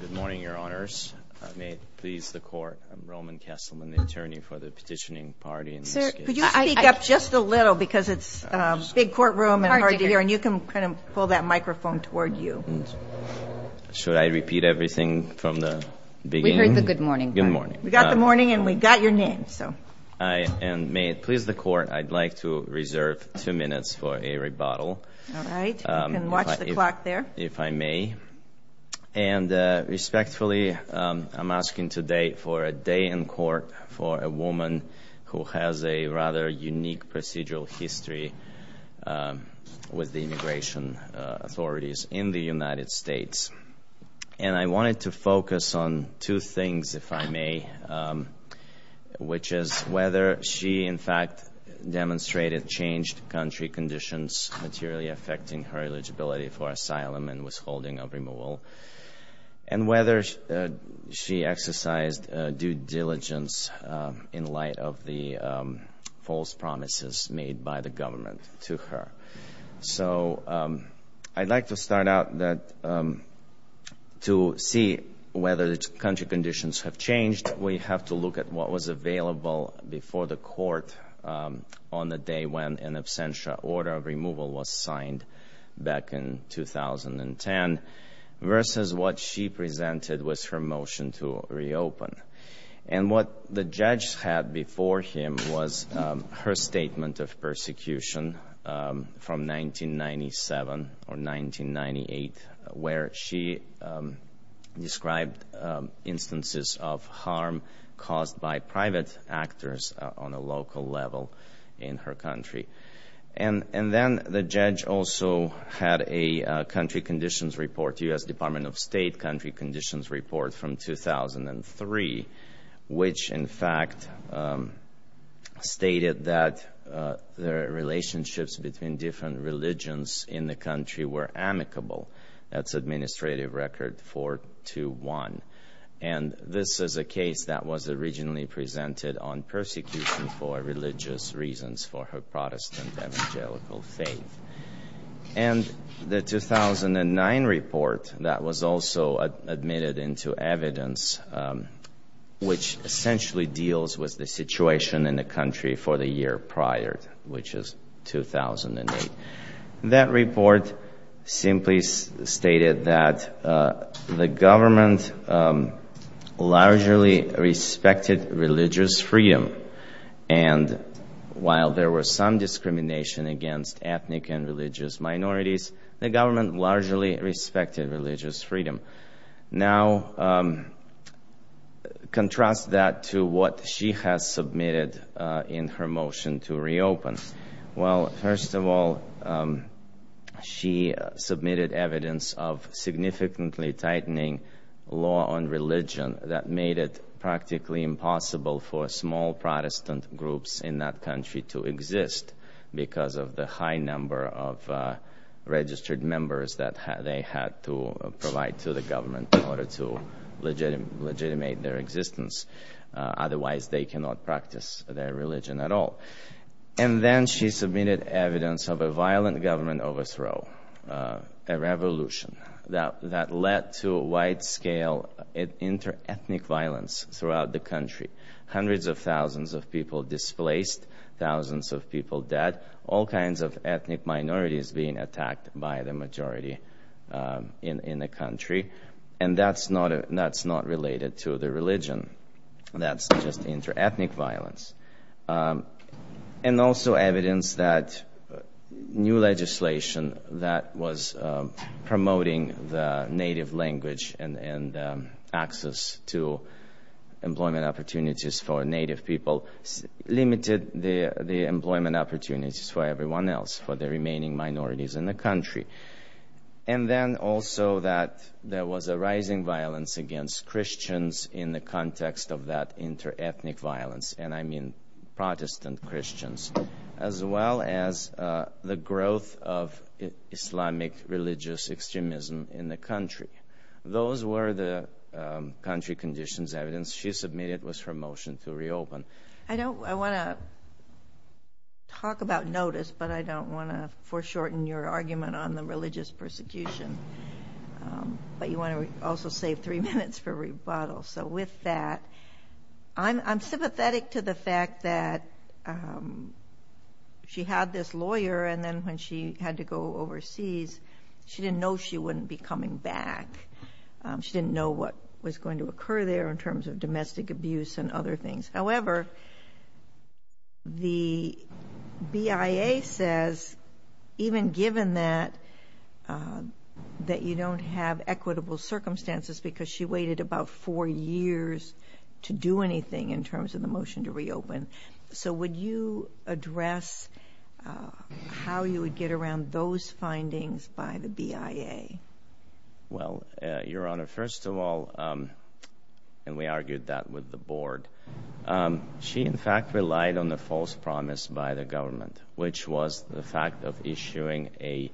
Good morning, Your Honors. May it please the Court, I'm Roman Kesselman, the attorney for the petitioning party in this case. Sir, could you speak up just a little because it's a big courtroom and hard to hear and you can kind of pull that microphone toward you. Should I repeat everything from the beginning? We heard the good morning part. Good morning. We got the morning and we got your name, so. May it please the Court, I'd like to reserve two minutes for a rebuttal. All right. You can watch the clock there. If I may. And respectfully, I'm asking today for a day in court for a woman who has a rather unique procedural history with the immigration authorities in the United States. And I wanted to focus on two things, if I may, which is whether she, in fact, demonstrated changed country conditions, materially affecting her eligibility for asylum and withholding of removal, and whether she exercised due diligence in light of the false promises made by the government to her. So I'd like to start out that to see whether the country conditions have changed, we have to look at what was available before the court on the day when an absentia order of removal was signed back in 2010, versus what she presented was her motion to reopen. And what the judge had before him was her statement of persecution from 1997 or 1998, where she described instances of harm caused by private actors on a local level in her country. And then the judge also had a country conditions report, U.S. Department of State country conditions report from 2003, which in fact stated that the relationships between different religions in the country were amicable. That's Administrative Record 421. And this is a case that was originally presented on persecution for religious reasons for her Protestant evangelical faith. And the 2009 report that was also admitted into evidence, which essentially deals with the situation in the country for the year prior, which is 2008. That report simply stated that the government largely respected religious freedom. And while there was some discrimination against ethnic and religious minorities, the government largely respected religious freedom. Now, contrast that to what she has submitted in her motion to reopen. Well, first of all, she submitted evidence of significantly tightening law on religion that made it practically impossible for small Protestant groups in that country to exist because of the high number of registered members that they had to provide to the government in order to legitimate their existence. Otherwise, they cannot practice their religion at all. And then she submitted evidence of a violent government overthrow, a revolution that led to a wide-scale inter-ethnic violence throughout the country. Hundreds of thousands of people displaced, thousands of people dead, all kinds of ethnic minorities being attacked by the majority in the country. And that's not related to the religion. That's just inter-ethnic violence. And also evidence that new legislation that was promoting the native language and access to employment opportunities for native people limited the employment opportunities for everyone else, for the remaining minorities in the country. And then also that there was a rising violence against Christians in the context of that inter-ethnic violence. And I mean Protestant Christians, as well as the growth of Islamic religious extremism in the country. Those were the country conditions evidence she submitted with her motion to reopen. I want to talk about notice, but I don't want to foreshorten your argument on the religious persecution. But you want to also save three minutes for rebuttal. So with that, I'm sympathetic to the fact that she had this lawyer, and then when she had to go overseas, she didn't know she wouldn't be coming back. She didn't know what was going to occur there in terms of domestic abuse and other things. However, the BIA says, even given that, that you don't have equitable circumstances because she waited about four years to do anything in terms of the motion to reopen. So would you address how you would get around those findings by the BIA? Well, Your Honor, first of all, and we argued that with the board, she in fact relied on the false promise by the government, which was the fact of issuing a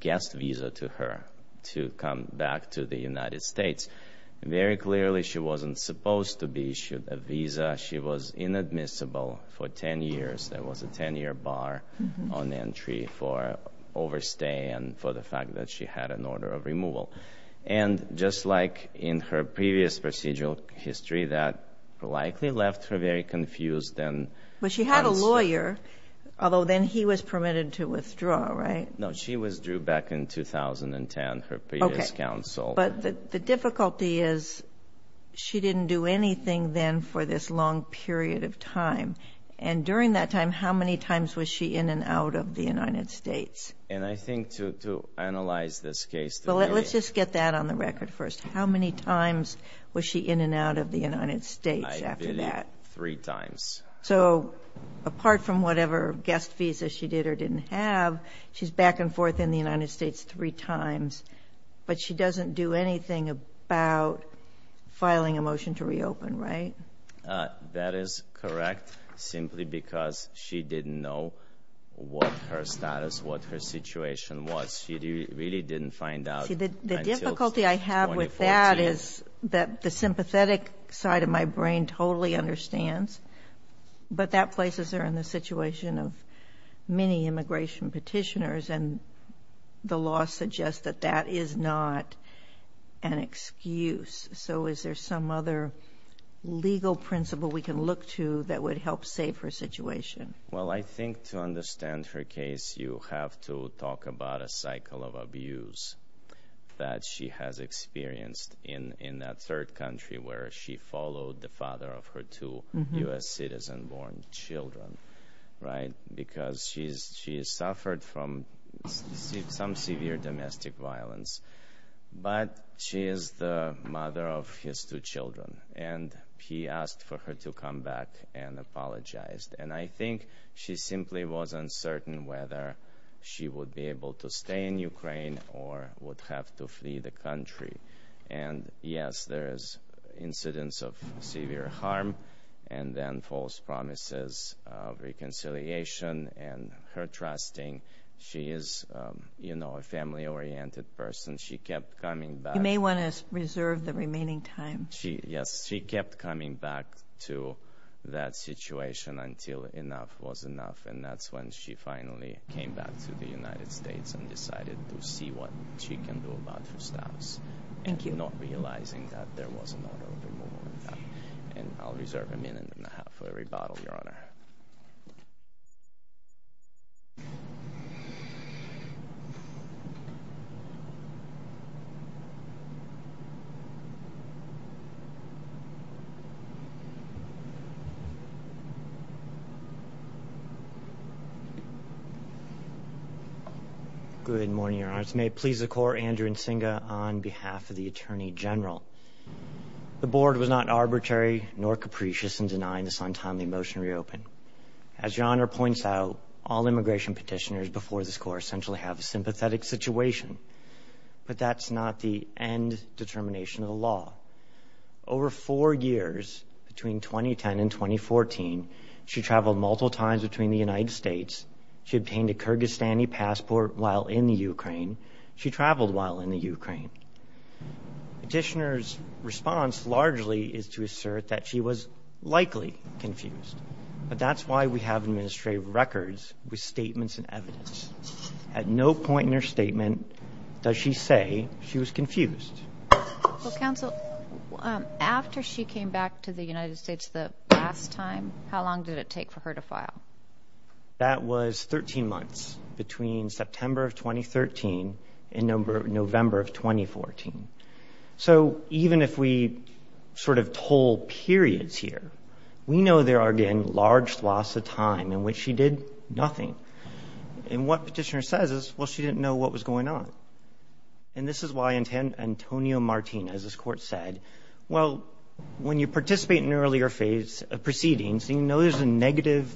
guest visa to her to come back to the United States. Very clearly, she wasn't supposed to be issued a visa. She was inadmissible for 10 years. There was a 10-year bar on entry for overstay and for the fact that she had an order of removal. And just like in her previous procedural history, that likely left her very confused. But she had a lawyer, although then he was permitted to withdraw, right? No, she withdrew back in 2010, her previous counsel. Okay. But the difficulty is she didn't do anything then for this long period of time. And during that time, how many times was she in and out of the United States? And I think to analyze this case to be— Well, let's just get that on the record first. How many times was she in and out of the United States after that? Three times. So apart from whatever guest visa she did or didn't have, she's back and forth in the United States three times. But she doesn't do anything about filing a motion to reopen, right? That is correct, simply because she didn't know what her status, what her situation was. She really didn't find out until 2014. The sympathetic side of my brain totally understands, but that places her in the situation of many immigration petitioners, and the law suggests that that is not an excuse. So is there some other legal principle we can look to that would help save her situation? Well, I think to understand her case, you have to talk about a cycle of abuse that she has experienced in that third country where she followed the father of her two U.S. citizen-born children, right? Because she has suffered from some severe domestic violence. But she is the mother of his two children, and he asked for her to come back and apologize. And I think she simply was uncertain whether she would be able to stay in Ukraine or would have to flee the country. And, yes, there is incidence of severe harm and then false promises of reconciliation and her trusting. She is, you know, a family-oriented person. She kept coming back. You may want to reserve the remaining time. Yes, she kept coming back to that situation until enough was enough, and that's when she finally came back to the United States and decided to see what she can do about her status. Thank you. Not realizing that there was an order of removal. And I'll reserve a minute and a half for a rebuttal, Your Honor. Good morning, Your Honor. This may please the Court. Andrew Nsinga on behalf of the Attorney General. The Board was not arbitrary nor capricious in denying this untimely motion to reopen. As Your Honor points out, all immigration petitioners before this Court essentially have a sympathetic situation. But that's not the end determination of the law. Over four years, between 2010 and 2014, she traveled multiple times between the United States. She obtained a Kyrgyzstani passport while in the Ukraine. She traveled while in the Ukraine. Petitioners' response largely is to assert that she was likely confused. But that's why we have administrative records with statements and evidence. At no point in her statement does she say she was confused. Well, Counsel, after she came back to the United States the last time, how long did it take for her to file? That was 13 months between September of 2013 and November of 2014. So even if we sort of toll periods here, we know there are, again, large swaths of time in which she did nothing. And what petitioner says is, well, she didn't know what was going on. And this is why Antonio Martinez's court said, well, when you participate in an earlier phase of proceedings, and you know there's a negative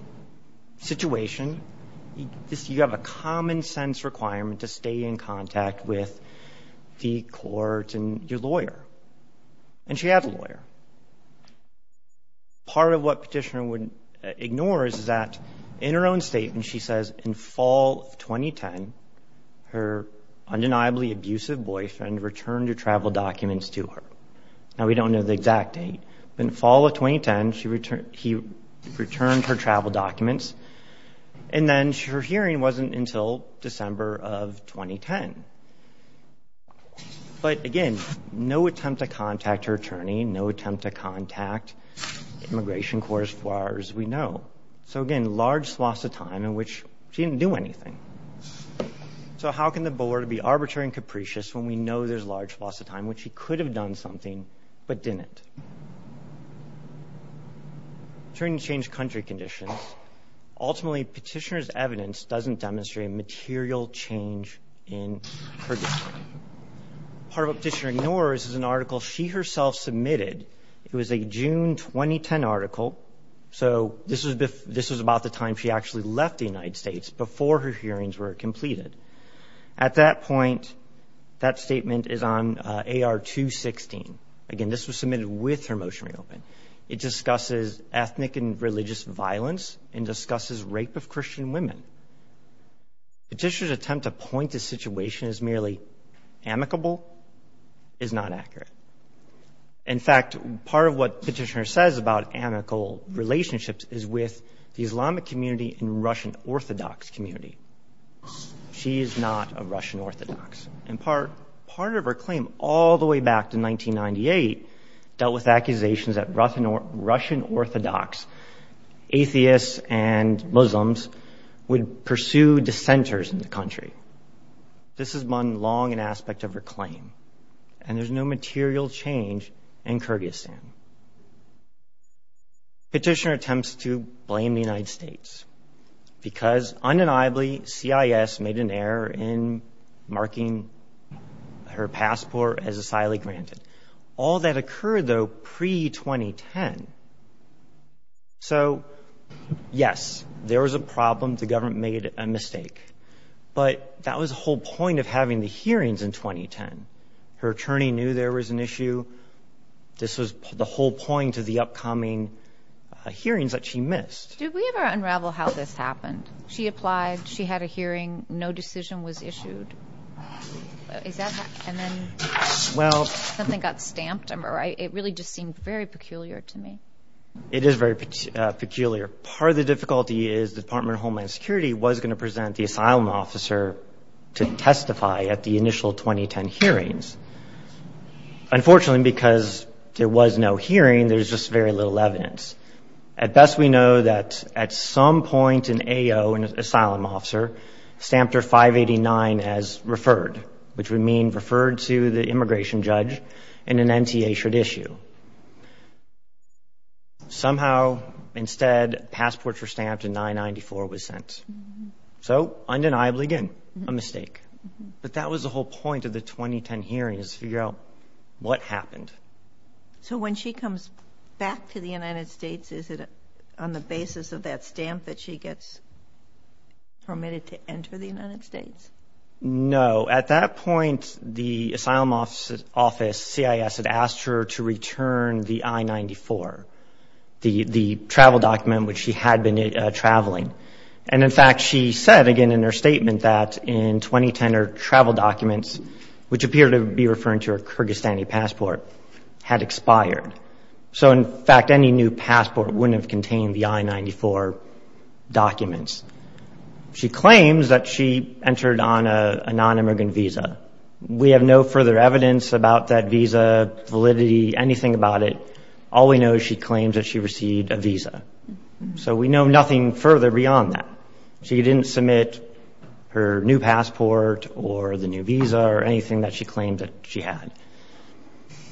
situation, you have a common-sense requirement to stay in contact with the court and your lawyer. And she had a lawyer. Part of what petitioner ignores is that in her own statement, she says, in fall of 2010, her undeniably abusive boyfriend returned her travel documents to her. Now, we don't know the exact date. In fall of 2010, he returned her travel documents. And then her hearing wasn't until December of 2010. But, again, no attempt to contact her attorney, no attempt to contact Immigration Corps as far as we know. So, again, large swaths of time in which she didn't do anything. So how can the board be arbitrary and capricious when we know there's large swaths of time in which she could have done something but didn't? Attorney changed country conditions. Ultimately, petitioner's evidence doesn't demonstrate a material change in her decision. Part of what petitioner ignores is an article she herself submitted. It was a June 2010 article. So this was about the time she actually left the United States, before her hearings were completed. At that point, that statement is on AR 216. Again, this was submitted with her motion reopened. It discusses ethnic and religious violence and discusses rape of Christian women. Petitioner's attempt to point to the situation as merely amicable is not accurate. In fact, part of what petitioner says about amicable relationships is with the Islamic community and Russian Orthodox community. She is not a Russian Orthodox. And part of her claim all the way back to 1998 dealt with accusations that Russian Orthodox, atheists, and Muslims would pursue dissenters in the country. This has been long an aspect of her claim. And there's no material change in Kyrgyzstan. Petitioner attempts to blame the United States, because undeniably CIS made an error in marking her passport as asylum-granted. All that occurred, though, pre-2010. So, yes, there was a problem. The government made a mistake. But that was the whole point of having the hearings in 2010. Her attorney knew there was an issue. This was the whole point of the upcoming hearings that she missed. Did we ever unravel how this happened? She applied. She had a hearing. No decision was issued. And then something got stamped. It really just seemed very peculiar to me. It is very peculiar. Part of the difficulty is the Department of Homeland Security was going to present the asylum officer to testify at the initial 2010 hearings. Unfortunately, because there was no hearing, there's just very little evidence. At best we know that at some point an AO, an asylum officer, stamped her 589 as referred, which would mean referred to the immigration judge and an NTA should issue. Somehow, instead, passports were stamped and 994 was sent. So, undeniably, again, a mistake. But that was the whole point of the 2010 hearings, to figure out what happened. So when she comes back to the United States, is it on the basis of that stamp that she gets permitted to enter the United States? No. So at that point, the asylum office, CIS, had asked her to return the I-94, the travel document which she had been traveling. And, in fact, she said, again in her statement, that in 2010 her travel documents, which appeared to be referring to her Kyrgyzstani passport, had expired. So, in fact, any new passport wouldn't have contained the I-94 documents. She claims that she entered on a nonimmigrant visa. We have no further evidence about that visa validity, anything about it. All we know is she claims that she received a visa. So we know nothing further beyond that. She didn't submit her new passport or the new visa or anything that she claimed that she had.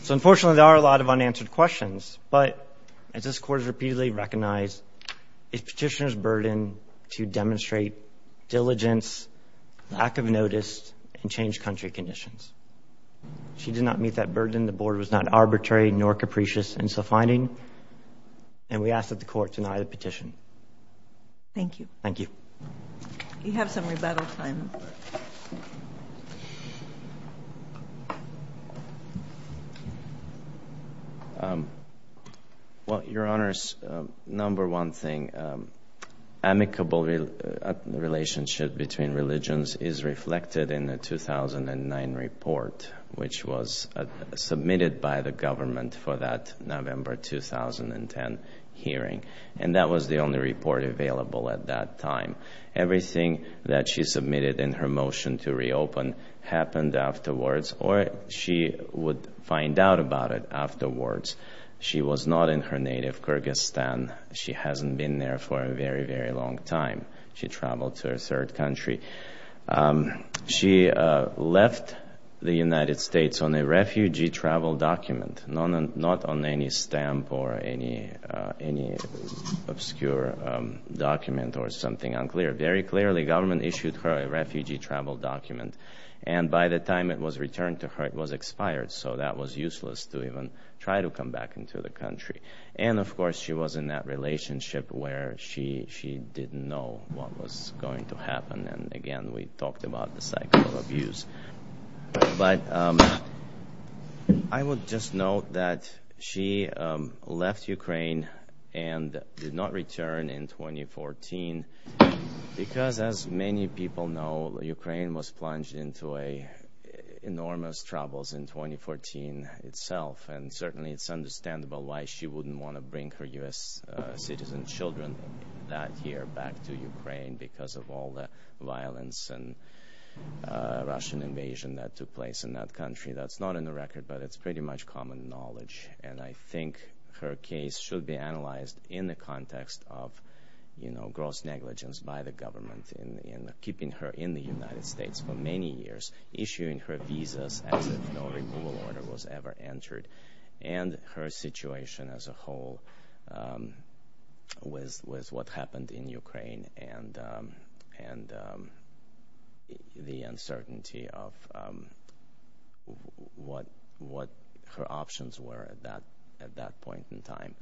So, unfortunately, there are a lot of unanswered questions. But as this Court has repeatedly recognized, it's Petitioner's burden to demonstrate diligence, lack of notice, and change country conditions. She did not meet that burden. The Board was not arbitrary nor capricious in its finding. And we ask that the Court deny the petition. Thank you. Thank you. You have some rebuttal time. Well, Your Honors, number one thing, amicable relationship between religions is reflected in the 2009 report, which was submitted by the government for that November 2010 hearing. And that was the only report available at that time. Everything that she submitted in her motion to reopen happened afterwards, or she would find out about it afterwards. She was not in her native Kyrgyzstan. She hasn't been there for a very, very long time. She traveled to her third country. She left the United States on a refugee travel document, not on any stamp or any obscure document or something unclear. Very clearly, government issued her a refugee travel document. And by the time it was returned to her, it was expired. So that was useless to even try to come back into the country. And, of course, she was in that relationship where she didn't know what was going to happen. And, again, we talked about the cycle of abuse. But I would just note that she left Ukraine and did not return in 2014 because, as many people know, Ukraine was plunged into enormous troubles in 2014 itself. And certainly it's understandable why she wouldn't want to bring her U.S. citizen children that year back to Ukraine because of all the violence and Russian invasion that took place in that country. That's not on the record, but it's pretty much common knowledge. And I think her case should be analyzed in the context of, you know, gross negligence by the government in keeping her in the United States for many years, issuing her visas as if no removal order was ever entered, and her situation as a whole with what happened in Ukraine and the uncertainty of what her options were at that point in time.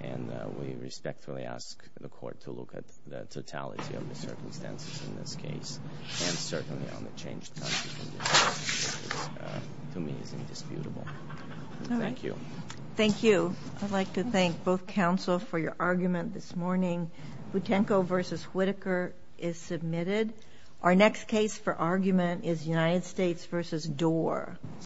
And we respectfully ask the Court to look at the totality of the circumstances in this case and certainly on the changed country conditions, which to me is indisputable. Thank you. Thank you. I'd like to thank both counsel for your argument this morning. Butenko v. Whitaker is submitted. Our next case for argument is United States v. Doar.